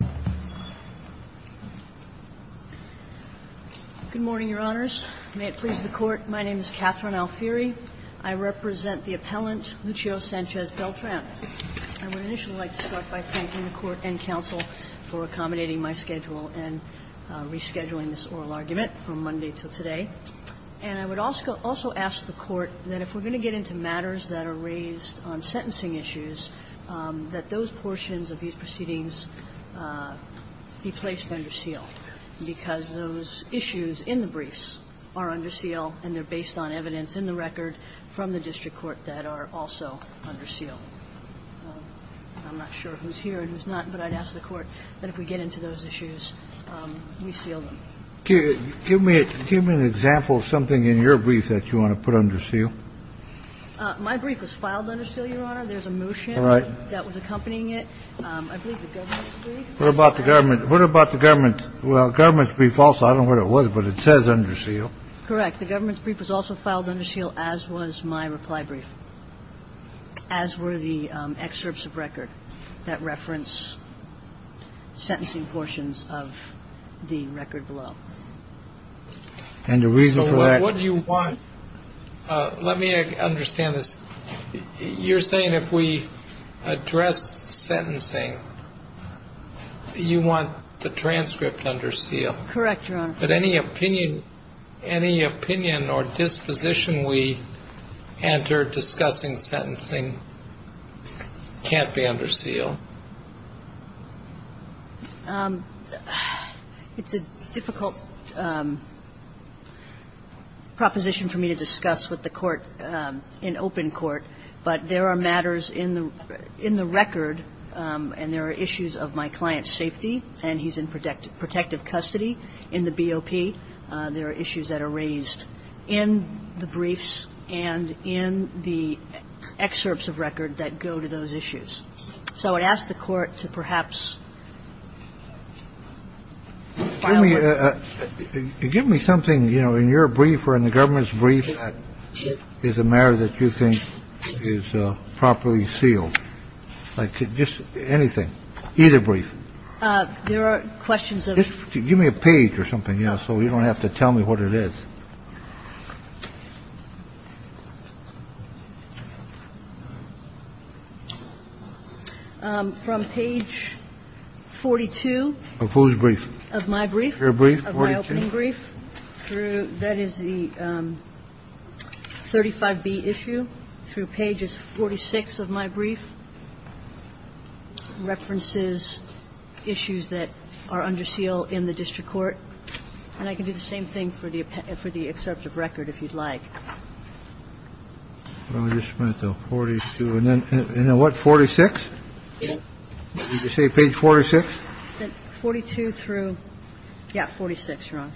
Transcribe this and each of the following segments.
Good morning, Your Honors. May it please the Court, my name is Catherine Alfieri. I represent the appellant Lucio Sanchez-Beltran. I would initially like to start by thanking the Court and counsel for accommodating my schedule and rescheduling this oral argument from Monday till today. And I would also ask the Court that if we're going to get into matters that are raised on sentencing issues, that those portions of these proceedings be placed under seal, because those issues in the briefs are under seal and they're based on evidence in the record from the district court that are also under seal. I'm not sure who's here and who's not, but I'd ask the Court that if we get into those issues, we seal them. Give me an example of something in your brief that you want to put under seal. My brief was filed under seal, Your Honor. There's a motion that was accompanying it. I believe the government's brief. What about the government's? Well, the government's brief also, I don't know what it was, but it says under seal. Correct. The government's brief was also filed under seal, as was my reply brief, as were the excerpts of record that reference sentencing portions of the record below. And the reason for that. So what do you want? Let me understand this. You're saying if we address sentencing, you want the transcript under seal. Correct, Your Honor. But any opinion or disposition we enter discussing sentencing can't be under seal. It's a difficult proposition for me to discuss with the Court in open court, but there are matters in the record, and there are issues of my client's safety, and he's in protective custody in the BOP. There are issues that are raised in the briefs and in the excerpts of record that go to those issues. So I'd ask the Court to perhaps file it. Give me something, you know, in your brief or in the government's brief that is a matter that you think is properly sealed. Like just anything. Either brief. There are questions. Give me a page or something, yeah, so you don't have to tell me what it is. From page 42. Of whose brief? Of my brief. Your brief? Of my opening brief. That is the 35B issue through pages 46 of my brief. References issues that are under seal in the district court. And I can do the same thing for the excerpt of record if you'd like. Well, you spent the 42. And then what, 46? Did you say page 46? 42 through, yeah, 46, Your Honor.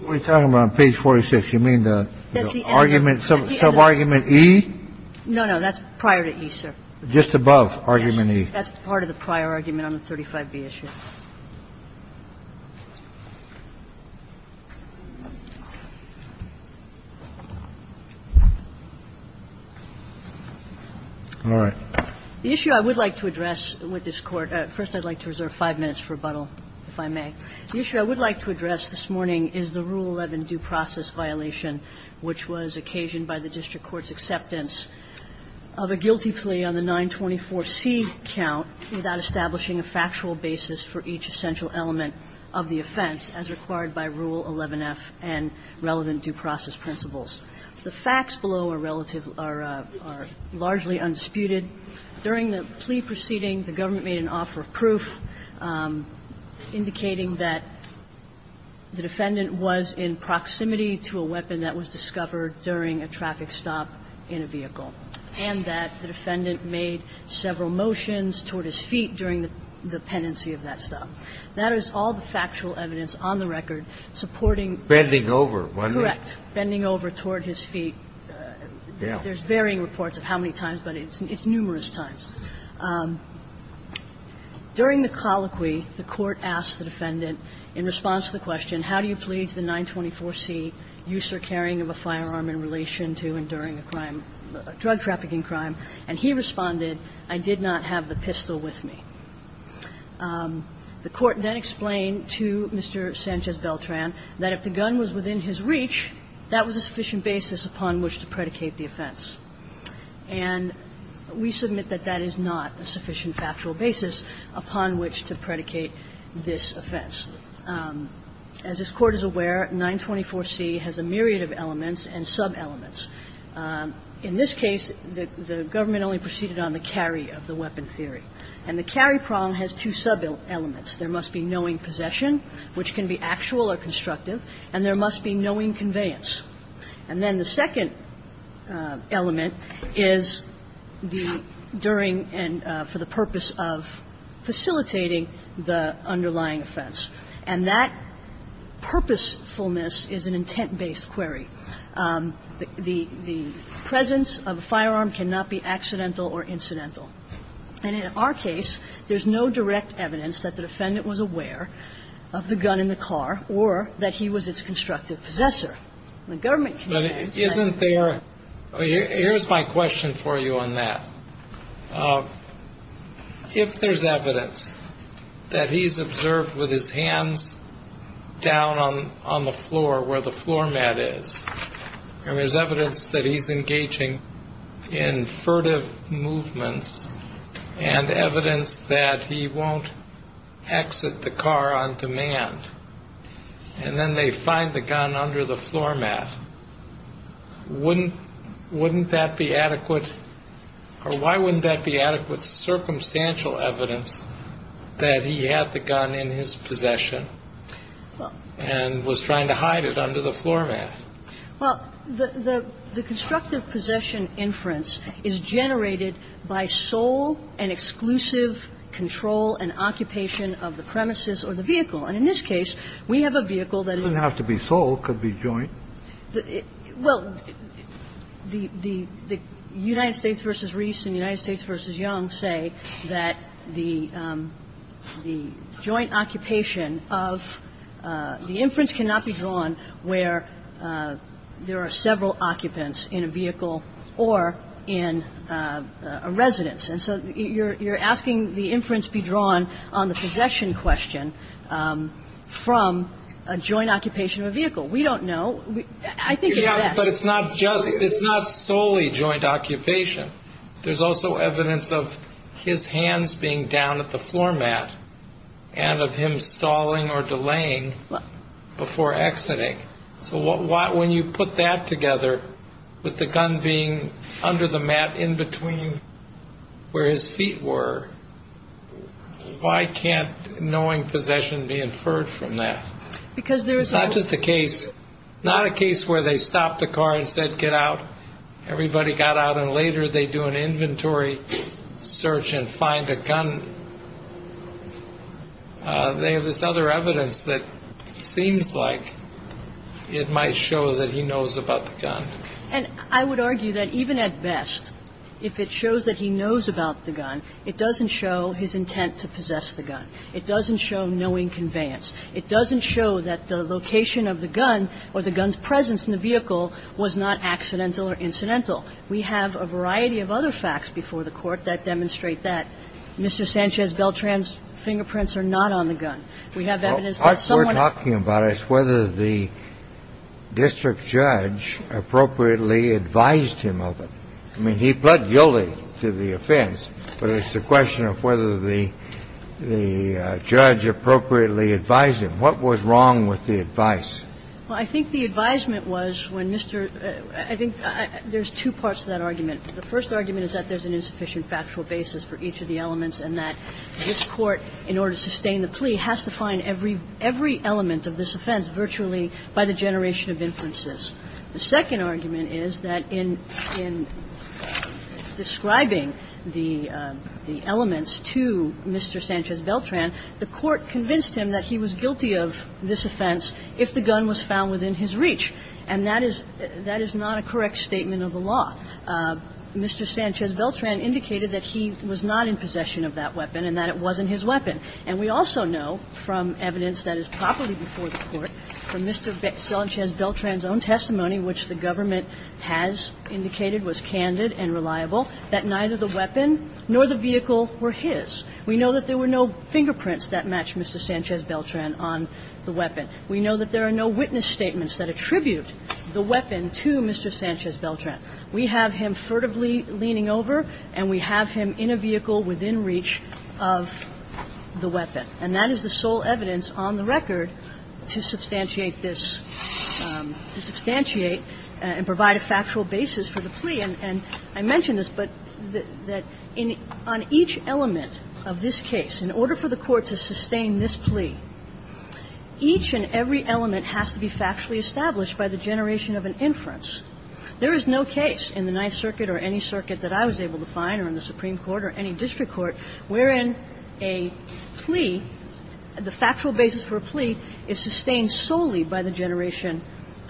What are you talking about on page 46? You mean the argument, sub-argument E? No, no, that's prior to E, sir. Just above argument E. That's part of the prior argument on the 35B issue. All right. The issue I would like to address with this Court, first I'd like to reserve five minutes for rebuttal, if I may. The issue I would like to address this morning is the Rule 11 due process violation, which was occasioned by the district court's acceptance of a guilty plea on the 924C count without establishing a factual basis for each essential element of the offense as required by Rule 11F and relevant due process principles. The facts below are relative, are largely undisputed. During the plea proceeding, the government made an offer of proof indicating that the defendant was in proximity to a weapon that was discovered during a traffic stop in a vehicle, and that the defendant made several motions toward his feet during the pendency of that stop. That is all the factual evidence on the record supporting the defendant. Bending over, wasn't it? The defendant made several motions toward his feet. There's varying reports of how many times, but it's numerous times. During the colloquy, the Court asked the defendant, in response to the question, how do you plead to the 924C use or carrying of a firearm in relation to enduring a crime, a drug trafficking crime, and he responded, I did not have the pistol with me. The Court then explained to Mr. Sanchez-Beltran that if the gun was within his reach, that was a sufficient basis upon which to predicate the offense. And we submit that that is not a sufficient factual basis upon which to predicate this offense. As this Court is aware, 924C has a myriad of elements and sub-elements. In this case, the government only proceeded on the carry of the weapon theory. And the carry problem has two sub-elements. There must be knowing possession, which can be actual or constructive, and there must be knowing conveyance. And then the second element is the during and for the purpose of facilitating the underlying offense. And that purposefulness is an intent-based query. The presence of a firearm cannot be accidental or incidental. And in our case, there's no direct evidence that the defendant was aware of the gun in the car or that he was its constructive possessor. The government continues to say that. But isn't there – here's my question for you on that. If there's evidence that he's observed with his hands down on the floor where the evidence that he won't exit the car on demand, and then they find the gun under the floor mat, wouldn't that be adequate? Or why wouldn't that be adequate circumstantial evidence that he had the gun in his possession and was trying to hide it under the floor mat? Well, the constructive possession inference is generated by sole and exclusive control and occupation of the premises or the vehicle. And in this case, we have a vehicle that is – It doesn't have to be sole. It could be joint. Well, the United States v. Reese and United States v. Young say that the joint occupation of – the inference cannot be drawn where there are several occupants in a vehicle or in a residence. And so you're asking the inference be drawn on the possession question from a joint occupation of a vehicle. We don't know. I think it's best. Yeah, but it's not solely joint occupation. There's also evidence of his hands being down at the floor mat and of him stalling or delaying before exiting. So when you put that together with the gun being under the mat in between where his feet were, why can't knowing possession be inferred from that? Because there is a – It's not just a case – not a case where they stopped the car and said, get out. Everybody got out, and later they do an inventory search and find a gun. They have this other evidence that seems like it might show that he knows about the gun. And I would argue that even at best, if it shows that he knows about the gun, it doesn't show his intent to possess the gun. It doesn't show knowing conveyance. It doesn't show that the location of the gun or the gun's presence in the vehicle was not accidental or incidental. We have a variety of other facts before the Court that demonstrate that Mr. Sanchez Beltran's fingerprints are not on the gun. We have evidence that someone – What we're talking about is whether the district judge appropriately advised him of it. I mean, he pled guilty to the offense, but it's a question of whether the judge appropriately advised him. What was wrong with the advice? Well, I think the advisement was when Mr. – I think there's two parts to that argument. The first argument is that there's an insufficient factual basis for each of the elements and that this Court, in order to sustain the plea, has to find every element of this offense virtually by the generation of inferences. The second argument is that in describing the elements to Mr. Sanchez Beltran, the Court convinced him that he was guilty of this offense if the gun was found within his reach. And that is – that is not a correct statement of the law. Mr. Sanchez Beltran indicated that he was not in possession of that weapon and that it wasn't his weapon. And we also know from evidence that is properly before the Court, from Mr. Sanchez Beltran's own testimony, which the government has indicated was candid and reliable, that neither the weapon nor the vehicle were his. We know that there were no fingerprints that match Mr. Sanchez Beltran on the weapon. We know that there are no witness statements that attribute the weapon to Mr. Sanchez Beltran. We have him furtively leaning over and we have him in a vehicle within reach of the weapon. And that is the sole evidence on the record to substantiate this – to substantiate and provide a factual basis for the plea. And I mention this, but that on each element of this case, in order for the Court to sustain this plea, each and every element has to be factually established by the generation of an inference. There is no case in the Ninth Circuit or any circuit that I was able to find or in the Supreme Court or any district court wherein a plea, the factual basis for a plea is sustained solely by the generation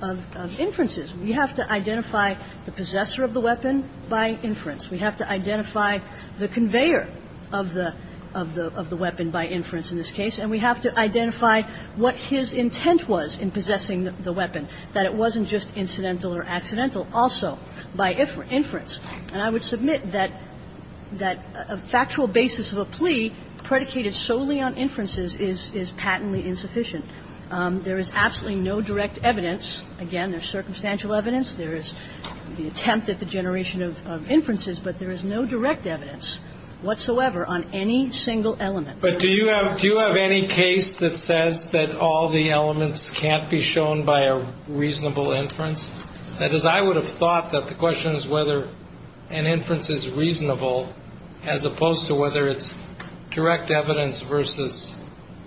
of inferences. We have to identify the possessor of the weapon by inference. We have to identify the conveyor of the weapon by inference in this case. And we have to identify what his intent was in possessing the weapon, that it wasn't just incidental or accidental, also by inference. And I would submit that a factual basis of a plea predicated solely on inferences is patently insufficient. There is absolutely no direct evidence. Again, there's circumstantial evidence. There is the attempt at the generation of inferences, but there is no direct evidence whatsoever on any single element. But do you have – do you have any case that says that all the elements can't be shown by a reasonable inference? That is, I would have thought that the question is whether an inference is reasonable as opposed to whether it's direct evidence versus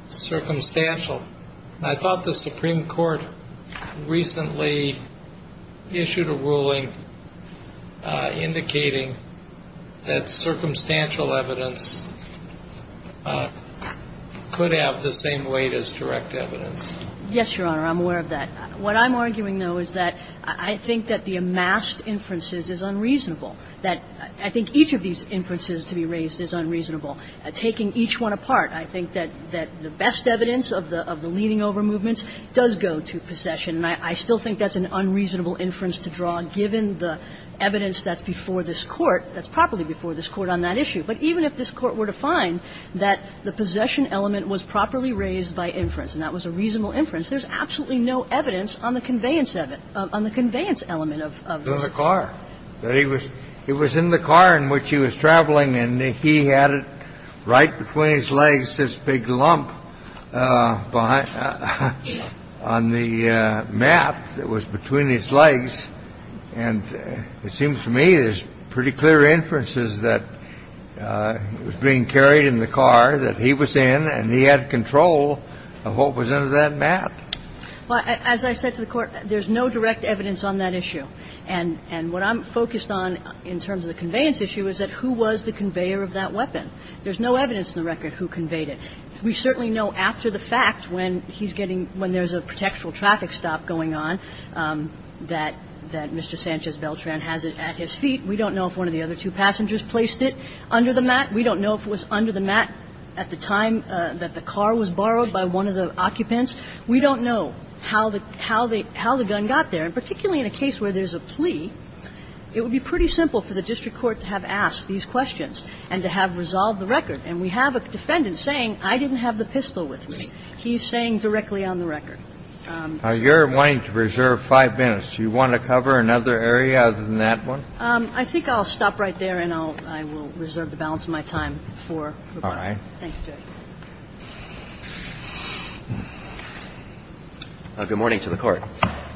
circumstantial. And I thought the Supreme Court recently issued a ruling indicating that circumstantial evidence could have the same weight as direct evidence. Yes, Your Honor. I'm aware of that. What I'm arguing, though, is that I think that the amassed inferences is unreasonable, that I think each of these inferences to be raised is unreasonable. Taking each one apart, I think that the best evidence of the leaning over movement does go to possession. And I still think that's an unreasonable inference to draw, given the evidence that's before this Court, that's properly before this Court on that issue. But even if this Court were to find that the possession element was properly raised by inference and that was a reasonable inference, there's absolutely no evidence on the conveyance of it, on the conveyance element of the Supreme Court. is that the car was in the car. That he was — it was in the car in which he was traveling, and he had it right between his legs, this big lump behind — on the mat that was between his legs. And it seems to me there's pretty clear inferences that it was being carried in the car that he was in, and he had control of what was under that mat. Well, as I said to the Court, there's no direct evidence on that issue. And what I'm focused on in terms of the conveyance issue is that who was the conveyor of that weapon. There's no evidence in the record who conveyed it. We certainly know after the fact, when he's getting — when there's a protectural traffic stop going on, that Mr. Sanchez Beltran has it at his feet. We don't know if one of the other two passengers placed it under the mat. We don't know if it was under the mat at the time that the car was borrowed by one of the occupants. We don't know how the — how the — how the gun got there. And particularly in a case where there's a plea, it would be pretty simple for the district court to have asked these questions and to have resolved the record. And we have a defendant saying, I didn't have the pistol with me. He's saying directly on the record. Now, you're wanting to reserve five minutes. Do you want to cover another area other than that one? I think I'll stop right there, and I'll — I will reserve the balance of my time for rebuttal. All right. Thank you, Judge. Good morning to the Court.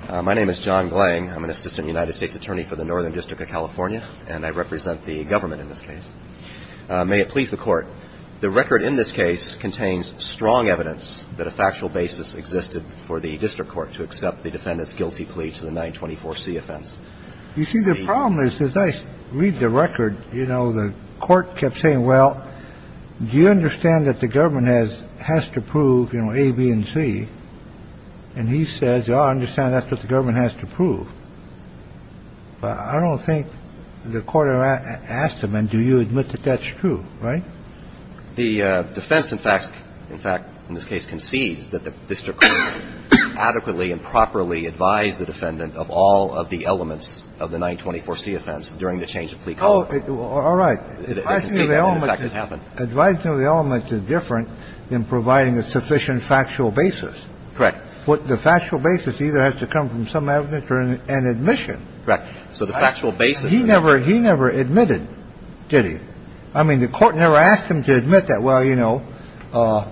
My name is John Glang. I'm an assistant United States attorney for the Northern District of California, and I represent the government in this case. May it please the Court. The record in this case contains strong evidence that a factual basis existed for the district court to accept the defendant's guilty plea to the 924C offense. You see, the problem is, as I read the record, you know, the court kept saying, well, do you understand that the government has to prove, you know, A, B, and C? And he says, yeah, I understand that's what the government has to prove. But I don't think the court asked him, and do you admit that that's true, right? The defense, in fact, in this case concedes that the district court adequately and properly advised the defendant of all of the elements of the 924C offense during the change of plea. Oh, all right. I see the element that could happen. Advising of the elements is different than providing a sufficient factual basis. Correct. The factual basis either has to come from some evidence or an admission. Correct. So the factual basis. He never admitted, did he? I mean, the court never asked him to admit that, well, you know, the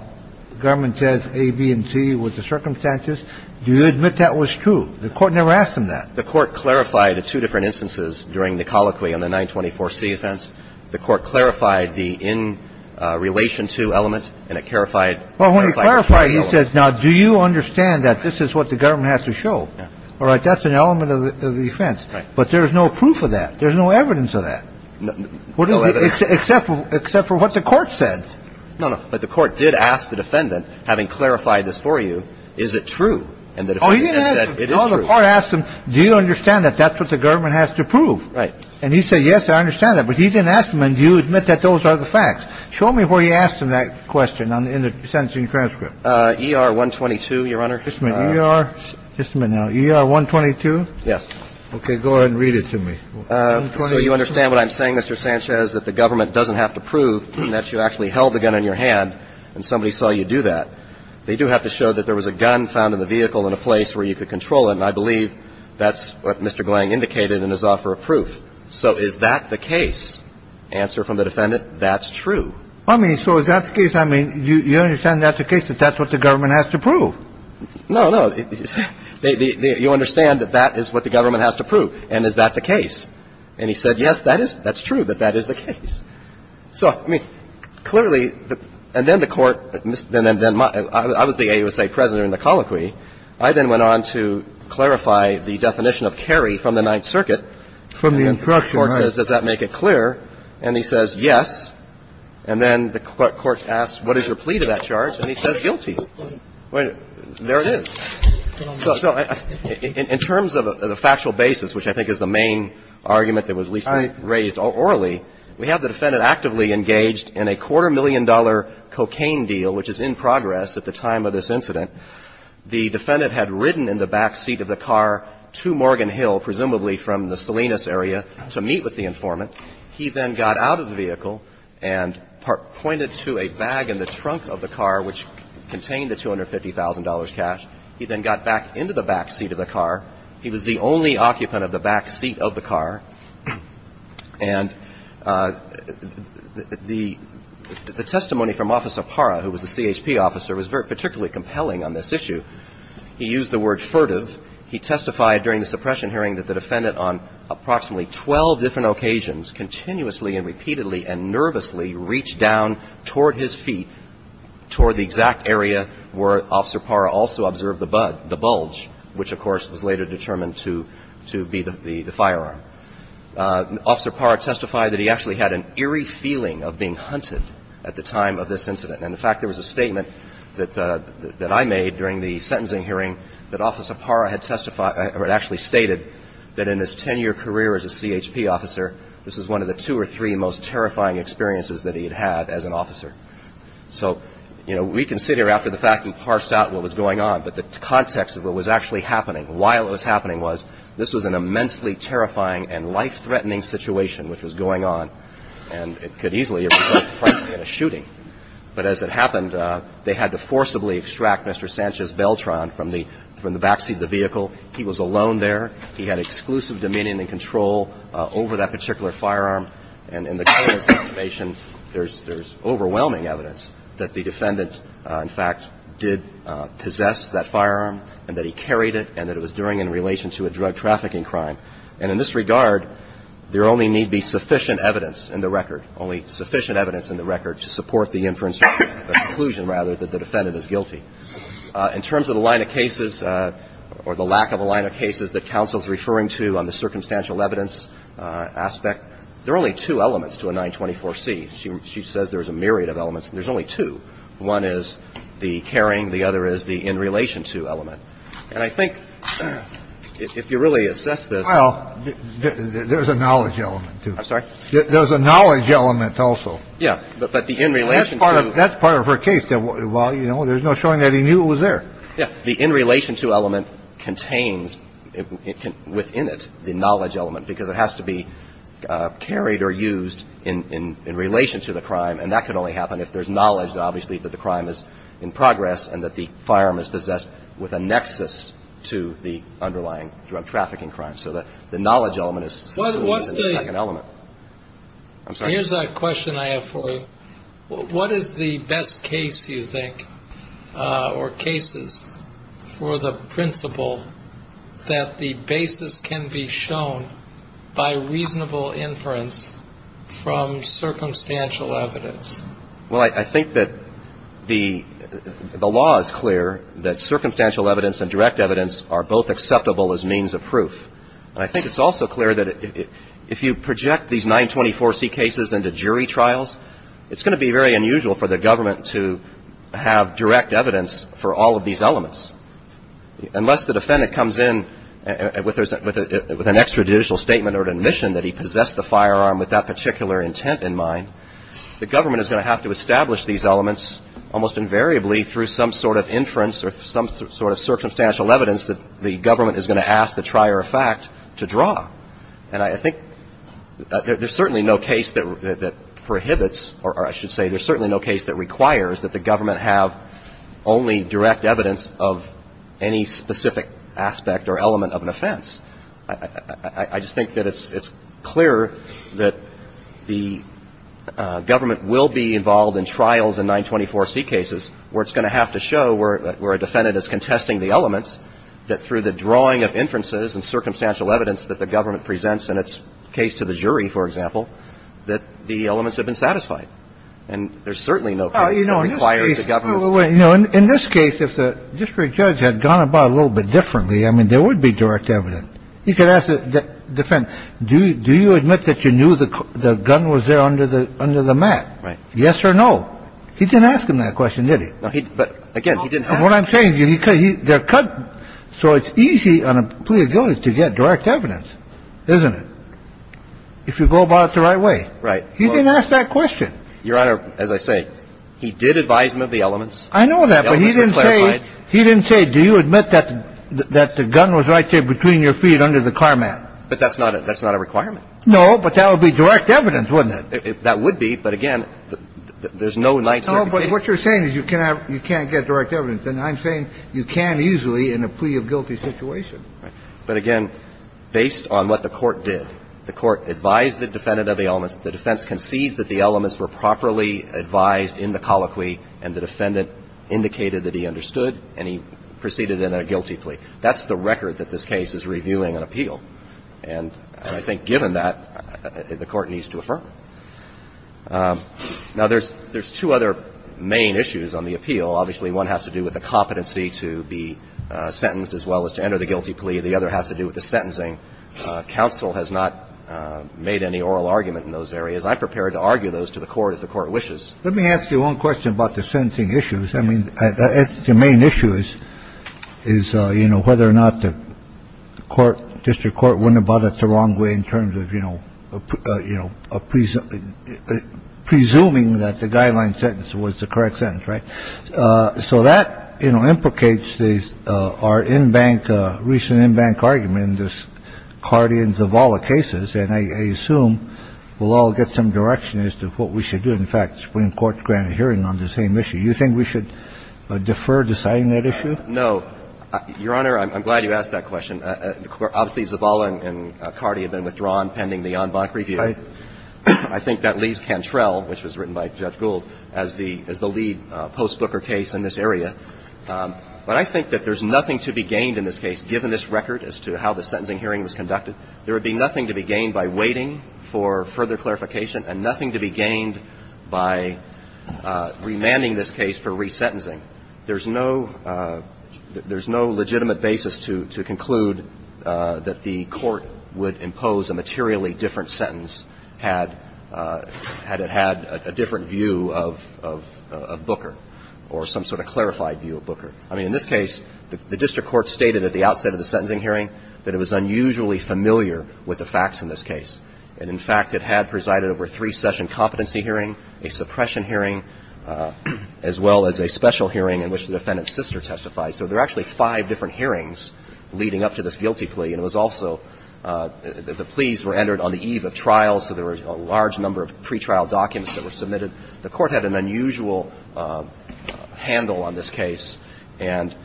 government says A, B, and C was the circumstances. Do you admit that was true? The court never asked him that. The court clarified the two different instances during the colloquy on the 924C offense. The court clarified the in-relation-to element, and it clarified. Well, when he clarified, he said, now, do you understand that this is what the government has to show? All right, that's an element of the offense. But there's no proof of that. There's no evidence of that. Except for what the court said. No, no, but the court did ask the defendant, having clarified this for you, is it true? Oh, he didn't ask him. No, the court asked him, do you understand that that's what the government has to prove? Right. And he said, yes, I understand that. But he didn't ask him, and do you admit that those are the facts? Show me where he asked him that question in the sentencing transcript. E.R. 122, Your Honor. Just a minute. E.R. Just a minute now. E.R. 122? Yes. Okay. Go ahead and read it to me. So you understand what I'm saying, Mr. Sanchez, that the government doesn't have to prove that you actually held the gun in your hand and somebody saw you do that. They do have to show that there was a gun found in the vehicle in a place where you could control it. And I believe that's what Mr. Glang indicated in his offer of proof. So is that the case? Answer from the defendant, that's true. I mean, so is that the case? I mean, you understand that's the case, that that's what the government has to prove. No, no. You understand that that is what the government has to prove. And is that the case? And he said, yes, that is. That's true that that is the case. So, I mean, clearly, and then the Court, and then I was the AUSA president in the colloquy. I then went on to clarify the definition of carry from the Ninth Circuit. From the instruction, right. And the Court says, does that make it clear? And he says, yes. And then the Court asks, what is your plea to that charge? And he says guilty. There it is. So in terms of the factual basis, which I think is the main argument that was at least raised orally, we have the defendant actively engaged in a quarter-million-dollar cocaine deal, which is in progress at the time of this incident. The defendant had ridden in the back seat of the car to Morgan Hill, presumably from the Salinas area, to meet with the informant. He then got out of the vehicle and pointed to a bag in the trunk of the car, which contained the $250,000 cash. He then got back into the back seat of the car. He was the only occupant of the back seat of the car. And the testimony from Officer Parra, who was a CHP officer, was particularly compelling on this issue. He used the word furtive. He testified during the suppression hearing that the defendant on approximately 12 different occasions, continuously and repeatedly and nervously, reached down toward his feet, toward the exact area where Officer Parra also observed the bulge, which, of course, was later determined to be the firearm. Officer Parra testified that he actually had an eerie feeling of being hunted at the time of this incident. And, in fact, there was a statement that I made during the sentencing hearing that Officer Parra had testified or had actually stated that in his 10-year career as a CHP officer, this was one of the two or three most terrifying experiences that he had had as an officer. So, you know, we can sit here after the fact and parse out what was going on, but the context of what was actually happening, while it was happening, was this was an immensely terrifying and life-threatening situation which was going on. And it could easily have resulted, frankly, in a shooting. But as it happened, they had to forcibly extract Mr. Sanchez Beltran from the backseat of the vehicle. He was alone there. He had exclusive dominion and control over that particular firearm. And in the case information, there's overwhelming evidence that the defendant, in fact, did possess that firearm and that he carried it and that it was during and in relation to a drug trafficking crime. And in this regard, there only need be sufficient evidence in the record, only sufficient evidence in the record to support the inference or conclusion, rather, that the defendant is guilty. In terms of the line of cases or the lack of a line of cases that counsel is referring to on the circumstantial evidence aspect, there are only two elements to a 924C. She says there's a myriad of elements, and there's only two. One is the carrying. The other is the in relation to element. And I think if you really assess this ---- Well, there's a knowledge element, too. I'm sorry? There's a knowledge element also. Yeah. But the in relation to ---- That's part of her case. Well, you know, there's no showing that he knew it was there. Yeah. The in relation to element contains within it the knowledge element, because it has to be carried or used in relation to the crime. And that can only happen if there's knowledge, obviously, that the crime is in progress and that the firearm is possessed with a nexus to the underlying drug trafficking crime. So the knowledge element is the second element. I'm sorry? Here's a question I have for you. What is the best case, you think, or cases for the principle that the basis can be shown by reasonable inference from circumstantial evidence? Well, I think that the law is clear that circumstantial evidence and direct evidence are both acceptable as means of proof. And I think it's also clear that if you project these 924C cases into jury trials, it's going to be very unusual for the government to have direct evidence for all of these elements. Unless the defendant comes in with an extrajudicial statement or admission that he possessed the firearm with that particular intent in mind, the government is going to have to establish these elements almost invariably through some sort of inference or some sort of circumstantial evidence that the government is going to ask the trier of fact to draw. And I think there's certainly no case that prohibits or I should say there's certainly no case that requires that the government have only direct evidence of any specific aspect or element of an offense. I just think that it's clear that the government will be involved in trials in 924C cases where it's going to have to show where a defendant is contesting the elements, that through the drawing of inferences and circumstantial evidence that the government presents in its case to the jury, for example, that the elements have been satisfied. And there's certainly no case that requires the government's statement. In this case, if the district judge had gone about it a little bit differently, I mean, there would be direct evidence. He could ask the defendant, do you admit that you knew the gun was there under the mat? Right. Yes or no? He didn't ask him that question, did he? But again, he didn't ask. What I'm saying is they're cut, so it's easy on a plea of guilt to get direct evidence, isn't it, if you go about it the right way? Right. He didn't ask that question. Your Honor, as I say, he did advise him of the elements. I know that, but he didn't say, he didn't say, do you admit that the gun was right there between your feet under the car mat? But that's not a requirement. No, but that would be direct evidence, wouldn't it? That would be, but again, there's no 924C case. No, but what you're saying is you can't get direct evidence. And I'm saying you can easily in a plea of guilty situation. Right. But again, based on what the Court did, the Court advised the defendant of the elements, the defense concedes that the elements were properly advised in the colloquy and the defendant indicated that he understood and he proceeded in a guilty plea. That's the record that this case is reviewing an appeal. And I think given that, the Court needs to affirm it. Now, there's two other main issues on the appeal. Obviously, one has to do with the competency to be sentenced as well as to enter the guilty plea. The other has to do with the sentencing. And I'm not going to argue that the Court has not made any oral arguments in those areas. I'm prepared to argue those to the Court if the Court wishes. Let me ask you one question about the sentencing issues. I mean, the main issue is, you know, whether or not the court, district court, went about it the wrong way in terms of, you know, of presuming that the guideline sentence was the correct sentence, right? So that, you know, implicates our in-bank, recent in-bank argument in this Cardi and Zavala cases. And I assume we'll all get some direction as to what we should do. In fact, the Supreme Court granted hearing on the same issue. You think we should defer deciding that issue? No. Your Honor, I'm glad you asked that question. Obviously, Zavala and Cardi have been withdrawn pending the en banc review. Right. I think that leaves Cantrell, which was written by Judge Gould, as the lead post-Booker case in this area. But I think that there's nothing to be gained in this case, given this record as to how the sentencing hearing was conducted. There would be nothing to be gained by waiting for further clarification and nothing to be gained by remanding this case for resentencing. There's no legitimate basis to conclude that the Court would impose a materially different sentence had it had a different view of Booker or some sort of clarified view of Booker. I mean, in this case, the district court stated at the outset of the sentencing hearing that it was unusually familiar with the facts in this case. And, in fact, it had presided over a three-session competency hearing, a suppression hearing, as well as a special hearing in which the defendant's sister testified. So there are actually five different hearings leading up to this guilty plea. And it was also the pleas were entered on the eve of trial, so there were a large number of pretrial documents that were submitted. The Court had an unusual handle on this case. And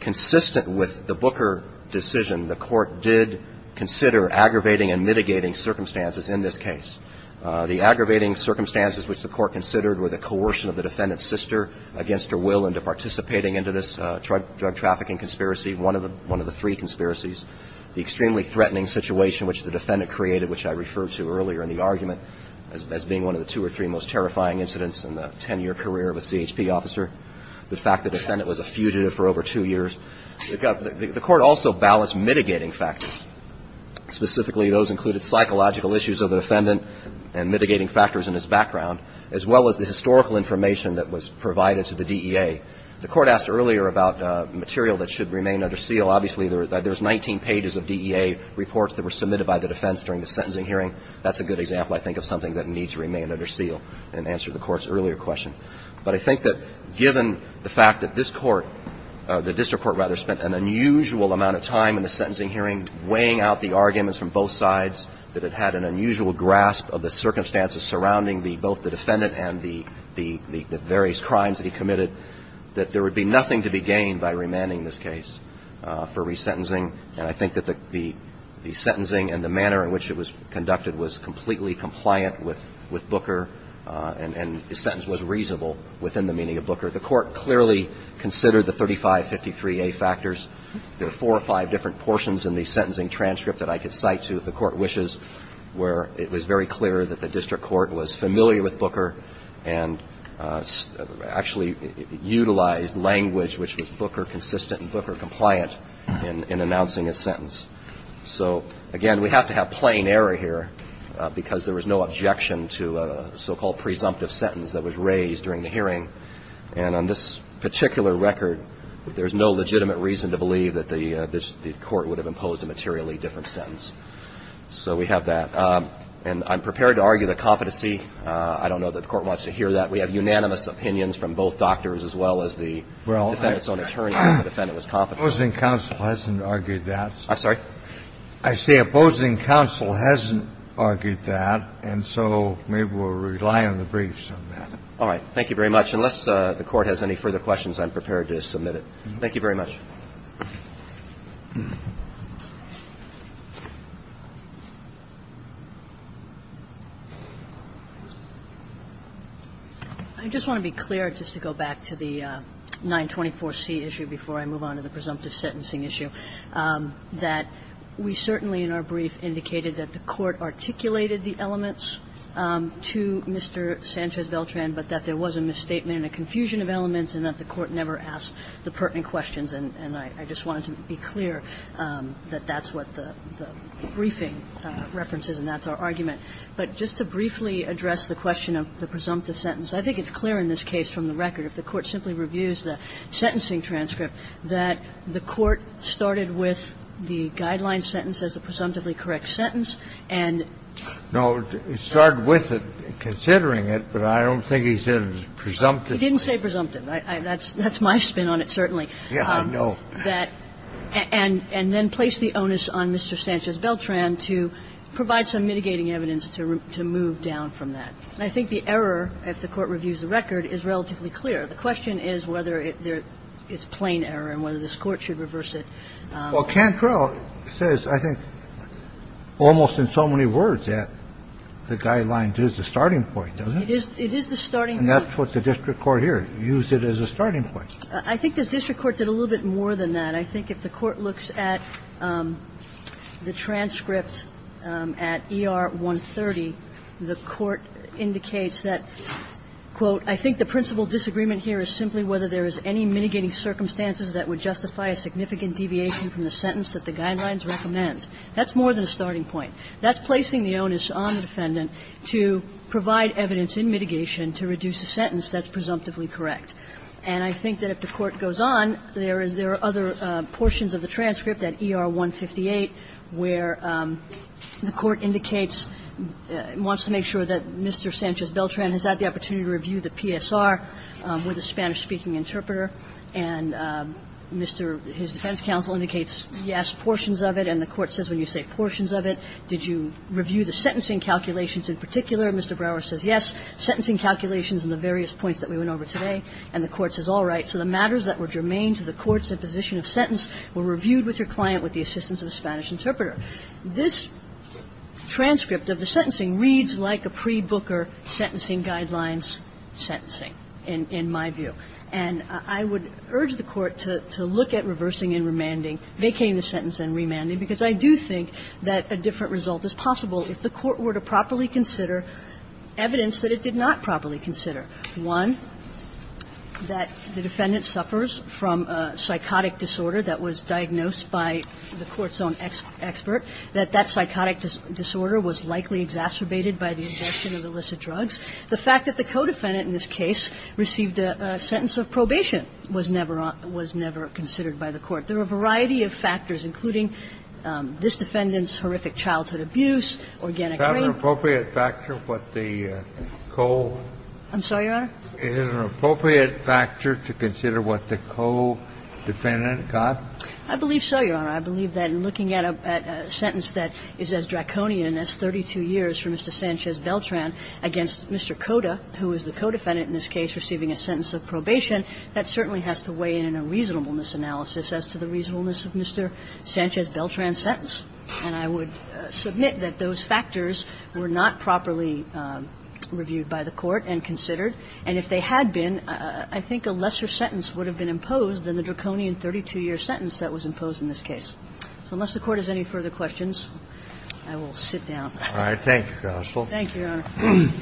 consistent with the Booker decision, the Court did consider aggravating and mitigating circumstances in this case. The aggravating circumstances which the Court considered were the coercion of the defendant's sister against her will into participating into this drug trafficking conspiracy, one of the three conspiracies. The extremely threatening situation which the defendant created, which I referred to earlier in the argument as being one of the two or three most terrifying incidents in the ten-year career of a CHP officer. The fact the defendant was a fugitive for over two years. The Court also balanced mitigating factors. Specifically, those included psychological issues of the defendant and mitigating factors in his background, as well as the historical information that was provided to the DEA. The Court asked earlier about material that should remain under seal. Well, obviously, there's 19 pages of DEA reports that were submitted by the defense during the sentencing hearing. That's a good example, I think, of something that needs to remain under seal and answer the Court's earlier question. But I think that given the fact that this Court, the district court rather, spent an unusual amount of time in the sentencing hearing weighing out the arguments from both sides, that it had an unusual grasp of the circumstances surrounding the – both the defendant and the various crimes that he committed, that there would be nothing to be gained by remanding this case. And I think that the sentence was reasonable within the meaning of Booker. The Court clearly considered the 3553A factors. There are four or five different portions in the sentencing transcript that I could cite to, if the Court wishes, where it was very clear that the district court was familiar with Booker and actually utilized language which was Booker-consistent in announcing his sentence. So, again, we have to have plain error here because there was no objection to a so-called presumptive sentence that was raised during the hearing. And on this particular record, there's no legitimate reason to believe that the court would have imposed a materially different sentence. So we have that. And I'm prepared to argue the competency. I don't know that the Court wants to hear that. We have unanimous opinions from both doctors as well as the defendant's own attorney that the defendant was competent. The opposing counsel hasn't argued that. I'm sorry? I say opposing counsel hasn't argued that, and so maybe we'll rely on the briefs on that. All right. Thank you very much. Unless the Court has any further questions, I'm prepared to submit it. Thank you very much. Kagan. I just want to be clear, just to go back to the 924C issue before I move on to the presumptive sentencing issue, that we certainly in our brief indicated that the Court articulated the elements to Mr. Sanchez-Beltran, but that there was a misstatement and a confusion of elements, and that the Court never asked the pertinent questions. And I just wanted to be clear that that's what the briefing references, and that's our argument. But just to briefly address the question of the presumptive sentence, I think it's clear in this case from the record, if the Court simply reviews the sentencing transcript, that the Court started with the guideline sentence as a presumptively correct sentence, and no, it started with it, considering it, but I don't think I don't think the Court said it was presumptive. It didn't say presumptive. That's my spin on it, certainly. Yeah, I know. And then place the onus on Mr. Sanchez-Beltran to provide some mitigating evidence to move down from that. And I think the error, if the Court reviews the record, is relatively clear. The question is whether it's plain error and whether this Court should reverse Well, Cantrell says, I think, almost in so many words that the guideline is the starting point, doesn't it? It is the starting point. And that's what the district court here used it as a starting point. I think the district court did a little bit more than that. I think if the Court looks at the transcript at ER 130, the Court indicates that, quote, That's more than a starting point. That's placing the onus on the defendant to provide evidence in mitigation to reduce a sentence that's presumptively correct. And I think that if the Court goes on, there are other portions of the transcript at ER 158 where the Court indicates, wants to make sure that Mr. Sanchez-Beltran has had the opportunity to review the PSR with a Spanish-speaking interpreter and Mr. — his defense counsel indicates, yes, portions of it. And the Court says when you say portions of it, did you review the sentencing calculations in particular? And Mr. Brower says, yes, sentencing calculations and the various points that we went over today. And the Court says, all right. So the matters that were germane to the Court's imposition of sentence were reviewed with your client with the assistance of a Spanish interpreter. This transcript of the sentencing reads like a pre-Booker sentencing guidelines sentencing, in my view. And I would urge the Court to look at reversing and remanding, vacating the sentence and remanding, because I do think that a different result is possible if the Court were to properly consider evidence that it did not properly consider. One, that the defendant suffers from a psychotic disorder that was diagnosed by the Court's own expert, that that psychotic disorder was likely exacerbated by the abortion of illicit drugs. The fact that the co-defendant in this case received a sentence of probation was never — was never considered by the Court. There are a variety of factors, including this defendant's horrific childhood abuse, organic grain. Kennedy. Is that an appropriate factor, what the co? Kagan. I'm sorry, Your Honor? Kennedy. Is it an appropriate factor to consider what the co-defendant got? I believe so, Your Honor. I believe that in looking at a sentence that is as draconian as 32 years for Mr. Sanchez-Beltran against Mr. Cota, who is the co-defendant in this case receiving a sentence of probation, that certainly has to weigh in in a reasonableness analysis as to the reasonableness of Mr. Sanchez-Beltran's sentence. And I would submit that those factors were not properly reviewed by the Court and that there was not sufficient evidence to support the sentence that was imposed in this case. So unless the Court has any further questions, I will sit down. All right. Thank you, Counsel. Thank you, Your Honor.